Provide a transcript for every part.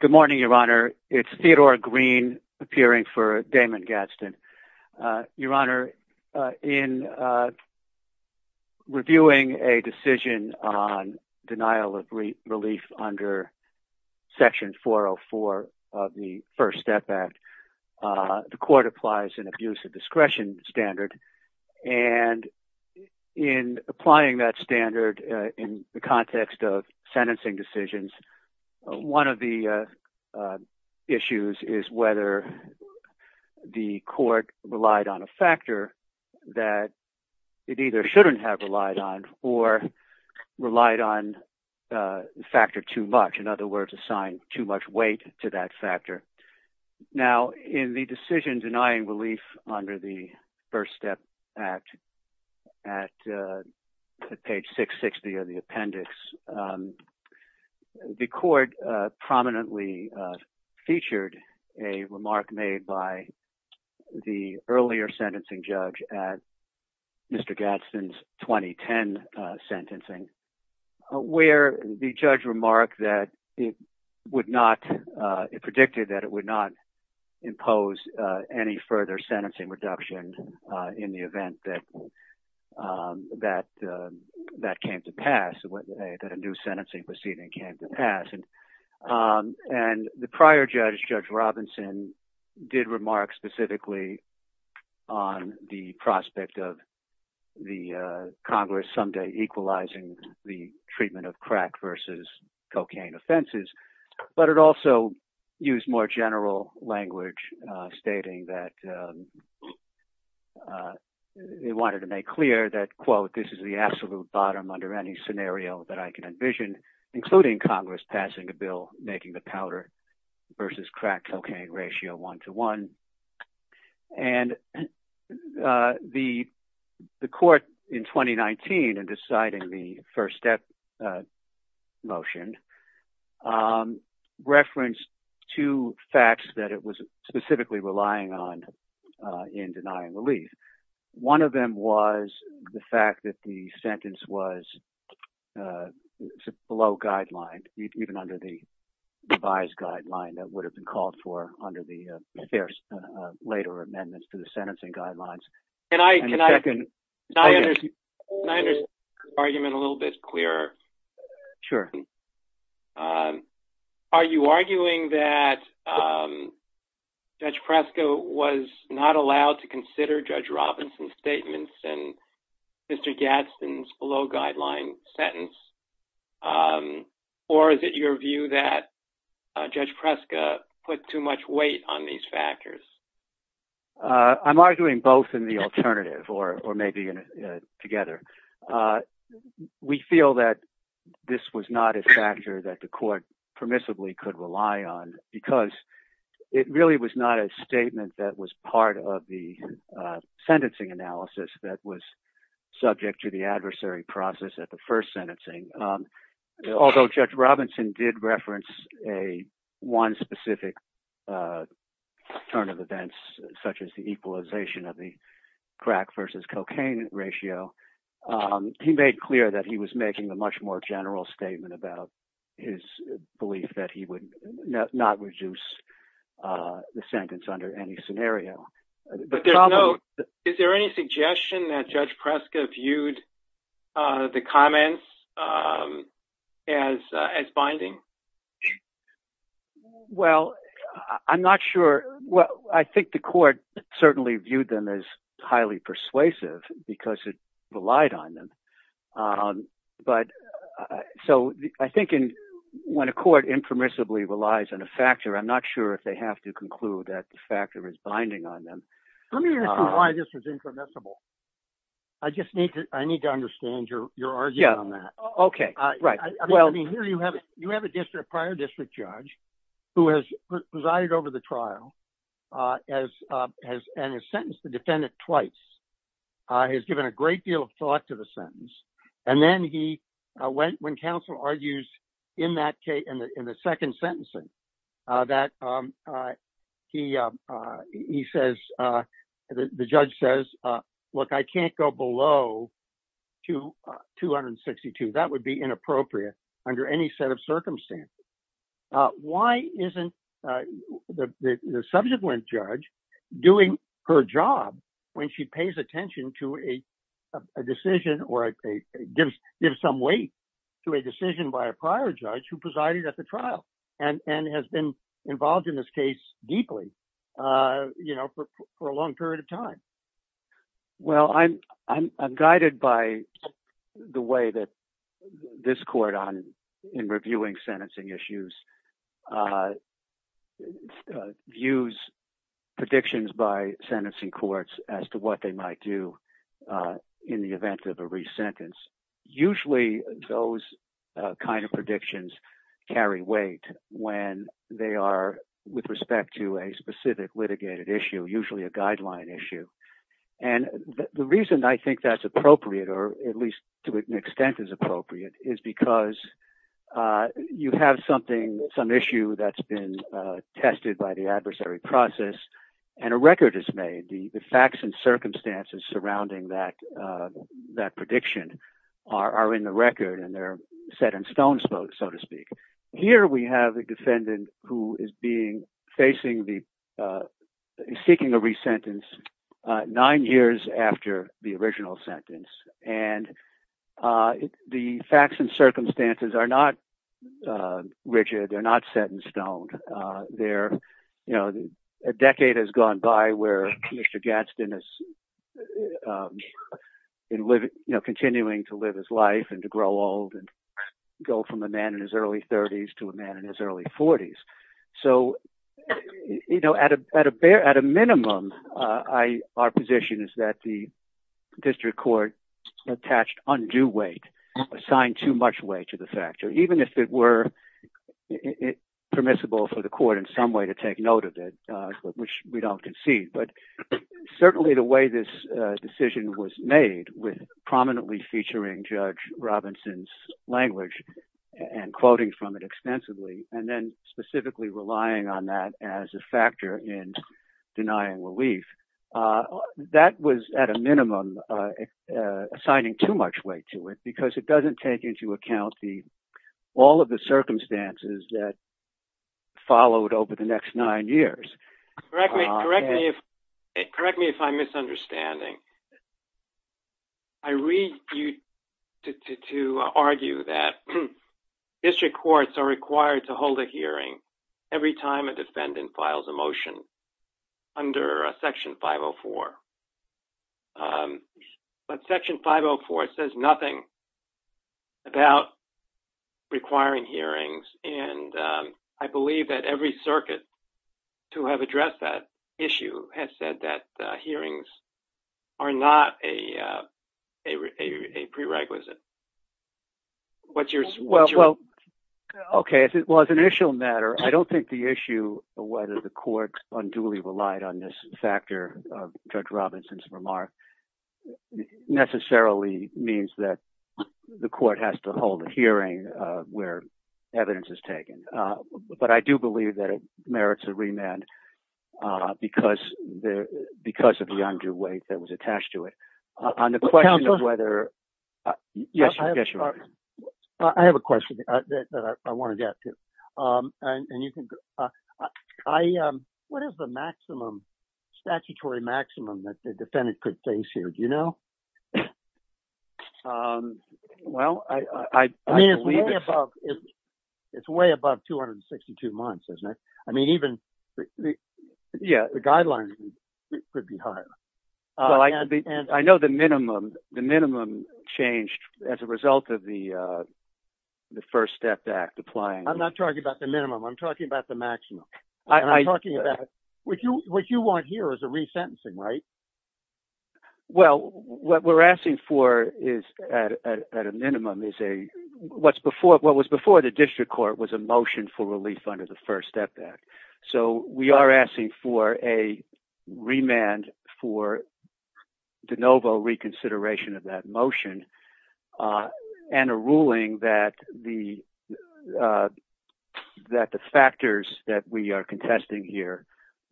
Good morning, Your Honor. It's Theodore Green, appearing for Damon Gadsden. Your Honor, in reviewing a decision on denial of relief under section 404 of the First Step Act, the court applies an abuse of discretion standard, and in applying that standard in the context of sentencing decisions, one of the issues is whether the court relied on a factor that it either shouldn't have relied on or relied on a factor too much, in other words, assigned too much weight to that factor. Now, in the decision denying relief under the First Step Act at page 660 of the appendix, the court prominently featured a remark made by the it predicted that it would not impose any further sentencing reduction in the event that that came to pass, that a new sentencing proceeding came to pass. And the prior judge, Judge Robinson, did remark specifically on the prospect of the Congress someday equalizing the it also used more general language, stating that they wanted to make clear that, quote, this is the absolute bottom under any scenario that I can envision, including Congress passing a bill making the powder versus crack cocaine ratio one to one. And the court in 2019 in deciding the First Step motion referenced two facts that it was specifically relying on in denying relief. One of them was the fact that the sentence was below guideline, even under the revised guideline that would have been called for under the later amendments to the sentencing guidelines. Can I understand your argument a little bit clearer? Sure. Are you arguing that Judge Preska was not allowed to consider Judge Robinson's statements and Mr. Gadsden's below guideline sentence? Or is it your view that Judge Preska put too much weight on these factors? I'm arguing both in the alternative or maybe together. We feel that this was not a factor that the court permissibly could rely on because it really was not a statement that was part of the sentencing analysis that was subject to the adversary process at the first sentencing. Although Judge Robinson did reference one specific turn of events, such as the equalization of the crack versus cocaine ratio, he made clear that he was making a much more general statement about his belief that he would not reduce the sentence under any scenario. But is there any suggestion that Judge Preska viewed the comments as binding? Well, I'm not sure. Well, I think the court certainly viewed them as highly persuasive because it relied on them. But so I think when a court impermissibly relies on a factor, I'm not sure if they have to conclude that the factor is binding on them. Let me ask you why this was impermissible. I just need to understand your argument on that. Yeah. Okay. Right. I mean, here you have a prior district judge who has presided over the trial and has sentenced the defendant twice, has given a great deal of thought to the sentence. And then when counsel argues in the second sentencing that he says, the judge says, look, I can't go below 262. That would be inappropriate under any set of circumstances. Why isn't the subsequent judge doing her job when she pays attention to a decision or gives some weight to a decision by a prior judge who presided at the trial and has been involved in this case deeply for a long period of time? Well, I'm guided by the way that this court in reviewing sentencing issues views predictions by sentencing courts as to what they might do in the event of a resentence. Usually those kind of predictions carry weight when they are with respect to a specific litigated issue, usually a guideline issue. And the reason I think that's appropriate, or at least to an some issue that's been tested by the adversary process and a record is made, the facts and circumstances surrounding that prediction are in the record and they're set in stone, so to speak. Here we have a defendant who is being facing the seeking a resentence nine years after the original they're not set in stone. A decade has gone by where Mr. Gadsden is continuing to live his life and to grow old and go from a man in his early 30s to a man in his early 40s. So at a minimum, our position is that the district court attached undue weight, assigned too much weight to the factor, even if it were permissible for the court in some way to take note of it, which we don't concede. But certainly the way this decision was made with prominently featuring Judge Robinson's language and quoting from it extensively, and then specifically relying on that as a factor in denying relief, that was at a minimum assigning too much weight to it because it doesn't take into account all of the circumstances that followed over the next nine years. Correct me if I'm misunderstanding. I read you to argue that district courts are required to 504. But section 504 says nothing about requiring hearings. And I believe that every circuit to have addressed that issue has said that hearings are not a prerequisite. Okay. Well, as an initial matter, I don't think the issue of whether the court unduly relied on this factor of Judge Robinson's remark necessarily means that the court has to hold a hearing where evidence is taken. But I do believe that it merits a remand because of the undue weight that was attached to it. On the question of whether... I have a question that I want to get to. And you can... What is the maximum statutory maximum that the defendant could face here? Do you know? Well, I believe... I mean, it's way above 262 months, isn't it? I mean, even the guideline could be higher. I know the minimum changed as a result of the First Step Act applying... I'm not talking about the minimum. I'm talking about the maximum. I'm talking about... What you want here is a resentencing, right? Well, what we're asking for is, at a minimum, is a... What was before the district court was a motion for relief under the First Step Act. So we are asking for a remand for de novo reconsideration of that motion and a ruling that the factors that we are contesting here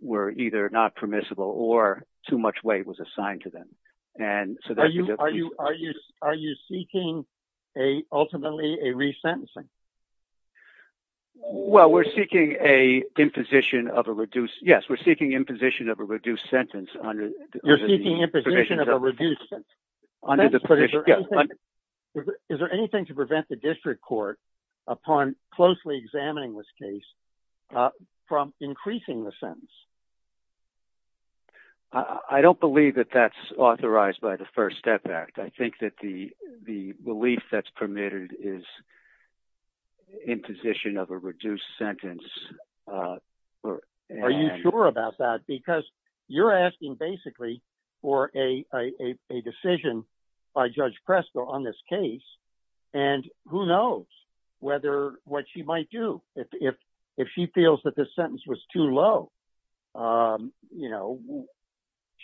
were either not permissible or too much weight was assigned to them. And so that... Are you seeking, ultimately, a resentencing? Well, we're seeking a imposition of a reduced... Yes, we're seeking imposition of a reduced sentence under the... You're seeking imposition of a reduced... Is there anything to prevent the district court, upon closely examining this case, from increasing the sentence? I don't believe that that's authorized by the First Step Act. I think that the relief that's permitted is imposition of a reduced sentence. Are you sure about that? Because you're asking, basically, for a decision by Judge Presco on this case, and who knows whether... What she might do if she feels that this sentence was too low.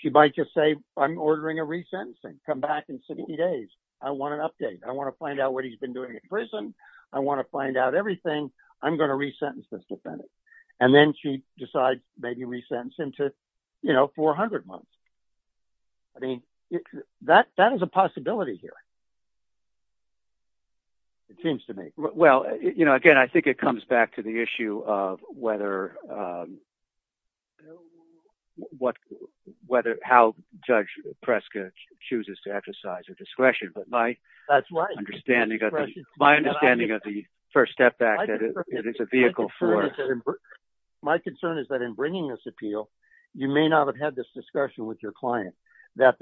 She might just say, I'm ordering a resentencing. Come back in 60 days. I want an update. I want to find out what he's been doing in prison. I want to find out everything. I'm going to resentence this defendant. And then she'd decide, maybe resentence him to 400 months. That is a possibility here. It seems to me. Well, again, I think it comes back to the issue of whether... How Judge Presco chooses to exercise her discretion. But my understanding of the First Step Act is that it's a vehicle for... My concern is that in bringing this appeal, you may not have had this discussion with your client, that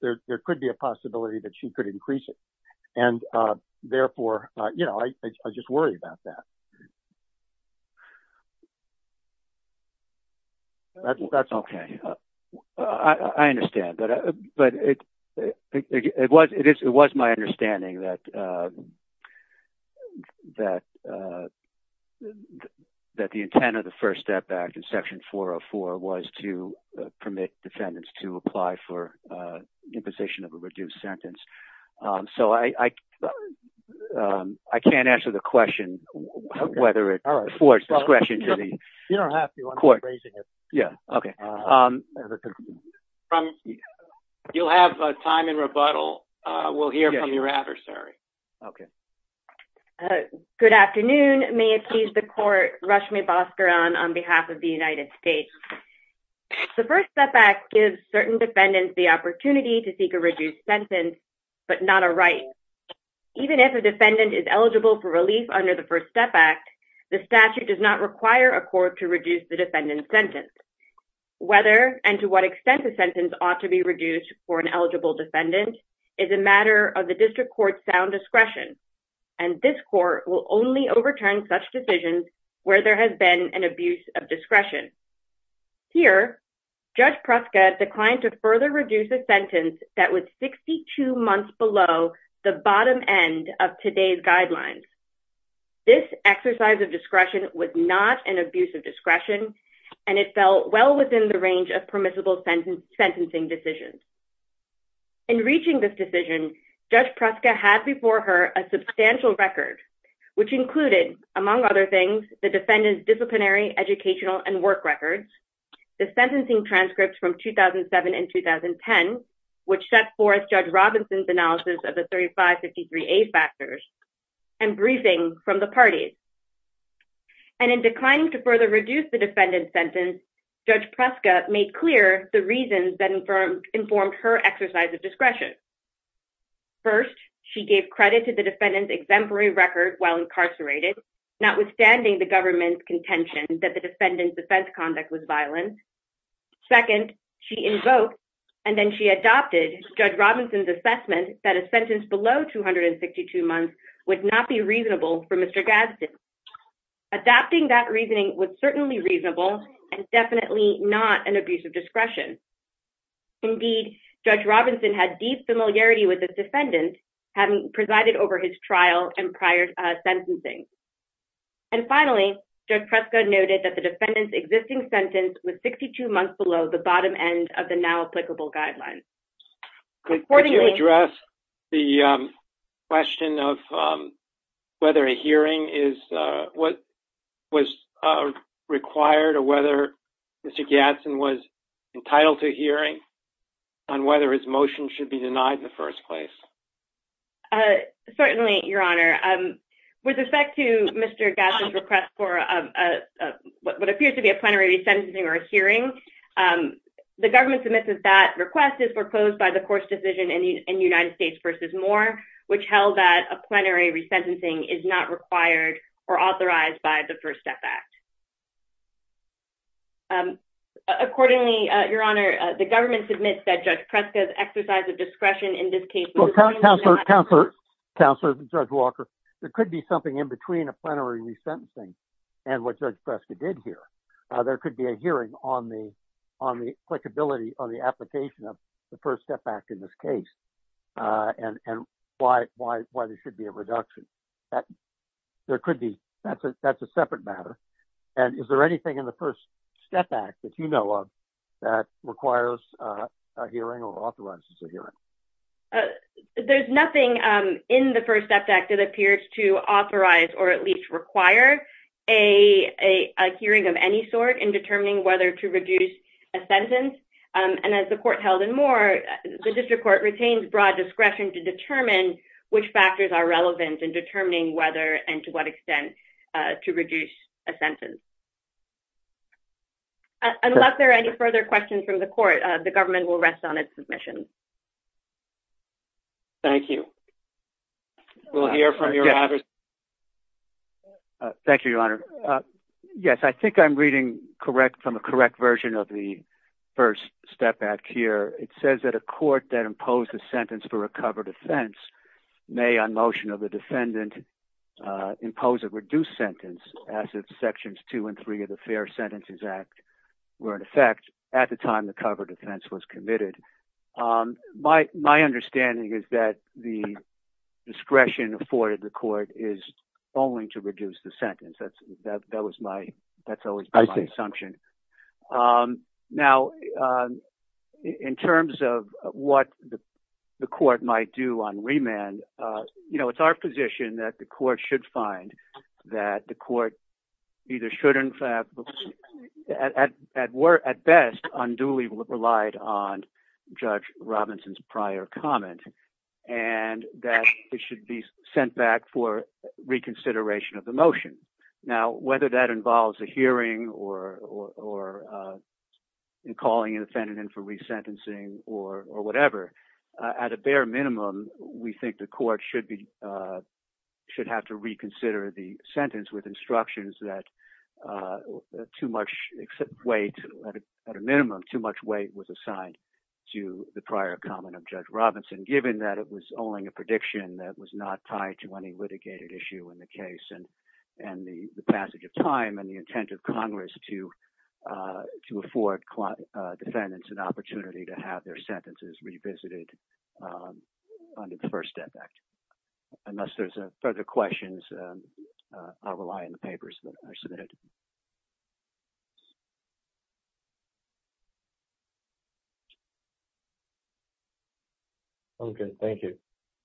there could be a possibility that she could increase it. And therefore, I just worry about that. That's all. I understand. But it was my understanding that the intent of the First Step Act in Section 404 was to permit defendants to apply for imposition of a reduced sentence. So I can't answer the court's question to the court. You don't have to. I'm just raising it. Yeah. Okay. You'll have time in rebuttal. We'll hear from your adversary. Okay. Good afternoon. May it please the court, Rashmi Bhaskaran on behalf of the United States. The First Step Act gives certain defendants the opportunity to seek a reduced sentence, but not a right. Even if a defendant is eligible for relief under the First Step Act, the statute does not require a court to reduce the defendant's sentence. Whether and to what extent the sentence ought to be reduced for an eligible defendant is a matter of the district court's sound discretion. And this court will only overturn such decisions where there has been an abuse of discretion. Here, Judge Pruska declined to further reduce a sentence that was 62 months below the bottom end of today's guidelines. This exercise of discretion was not an abuse of discretion, and it fell well within the range of permissible sentencing decisions. In reaching this decision, Judge Pruska had before her a substantial record, which included, among other things, the defendant's disciplinary, educational, and work records, the sentencing transcripts from 2007 and 2010, which set forth Judge Robinson's analysis of the 3553A factors, and briefings from the parties. And in declining to further reduce the defendant's sentence, Judge Pruska made clear the reasons that informed her exercise of discretion. First, she gave credit to the defendant's exemplary record while incarcerated, notwithstanding the government's contention that the defendant's defense conduct was violent. Second, she invoked and then she adopted Judge Robinson's assessment that a sentence below 262 months would not be reasonable for Mr. Gadsden. Adopting that reasoning was certainly reasonable and definitely not an abuse of discretion. Indeed, Judge Robinson had deep familiarity with the defendant, having presided over his trial and prior sentencing. And finally, Judge Pruska noted that the defendant's existing sentence was 62 months below the bottom end of the now applicable guidelines. Accordingly... Could you address the question of whether a hearing was required or whether Mr. Gadsden was entitled to a hearing on whether his motion should be proposed? Certainly, Your Honor. With respect to Mr. Gadsden's request for what appears to be a plenary resentencing or a hearing, the government submits that that request is proposed by the court's decision in United States v. Moore, which held that a plenary resentencing is not required or authorized by the First Step Act. Accordingly, Your Honor, the government submits that Judge Pruska... Counselor Judge Walker, there could be something in between a plenary resentencing and what Judge Pruska did here. There could be a hearing on the applicability on the application of the First Step Act in this case and why there should be a reduction. That's a separate matter. And is there anything in the First Step Act that you know of that requires a hearing or there's nothing in the First Step Act that appears to authorize or at least require a hearing of any sort in determining whether to reduce a sentence? And as the court held in Moore, the district court retains broad discretion to determine which factors are relevant in determining whether and to what extent to reduce a sentence. Unless there are any further questions from the court, the government will rest on its submission. Thank you. We'll hear from Your Honor. Thank you, Your Honor. Yes, I think I'm reading correct from a correct version of the First Step Act here. It says that a court that imposed a sentence for a covered offense may on motion of the defendant impose a reduced sentence as if Sections 2 and 3 of the Fair Sentences Act were in effect at the time the covered offense was committed. My understanding is that the discretion afforded the court is only to reduce the sentence. That's always my assumption. Now, in terms of what the court might do on remand, you know, it's our position that the at best unduly relied on Judge Robinson's prior comment and that it should be sent back for reconsideration of the motion. Now, whether that involves a hearing or calling an offendant in for resentencing or whatever, at a bare minimum, we think the court should have to reconsider the sentence with instructions that too much weight, at a minimum, too much weight was assigned to the prior comment of Judge Robinson, given that it was only a prediction that was not tied to any litigated issue in the case and the passage of time and the intent of Congress to afford defendants an opportunity to have their sentences revisited under the First Step Act. Unless there's further questions, I'll rely on the papers that are submitted. Okay. Thank you.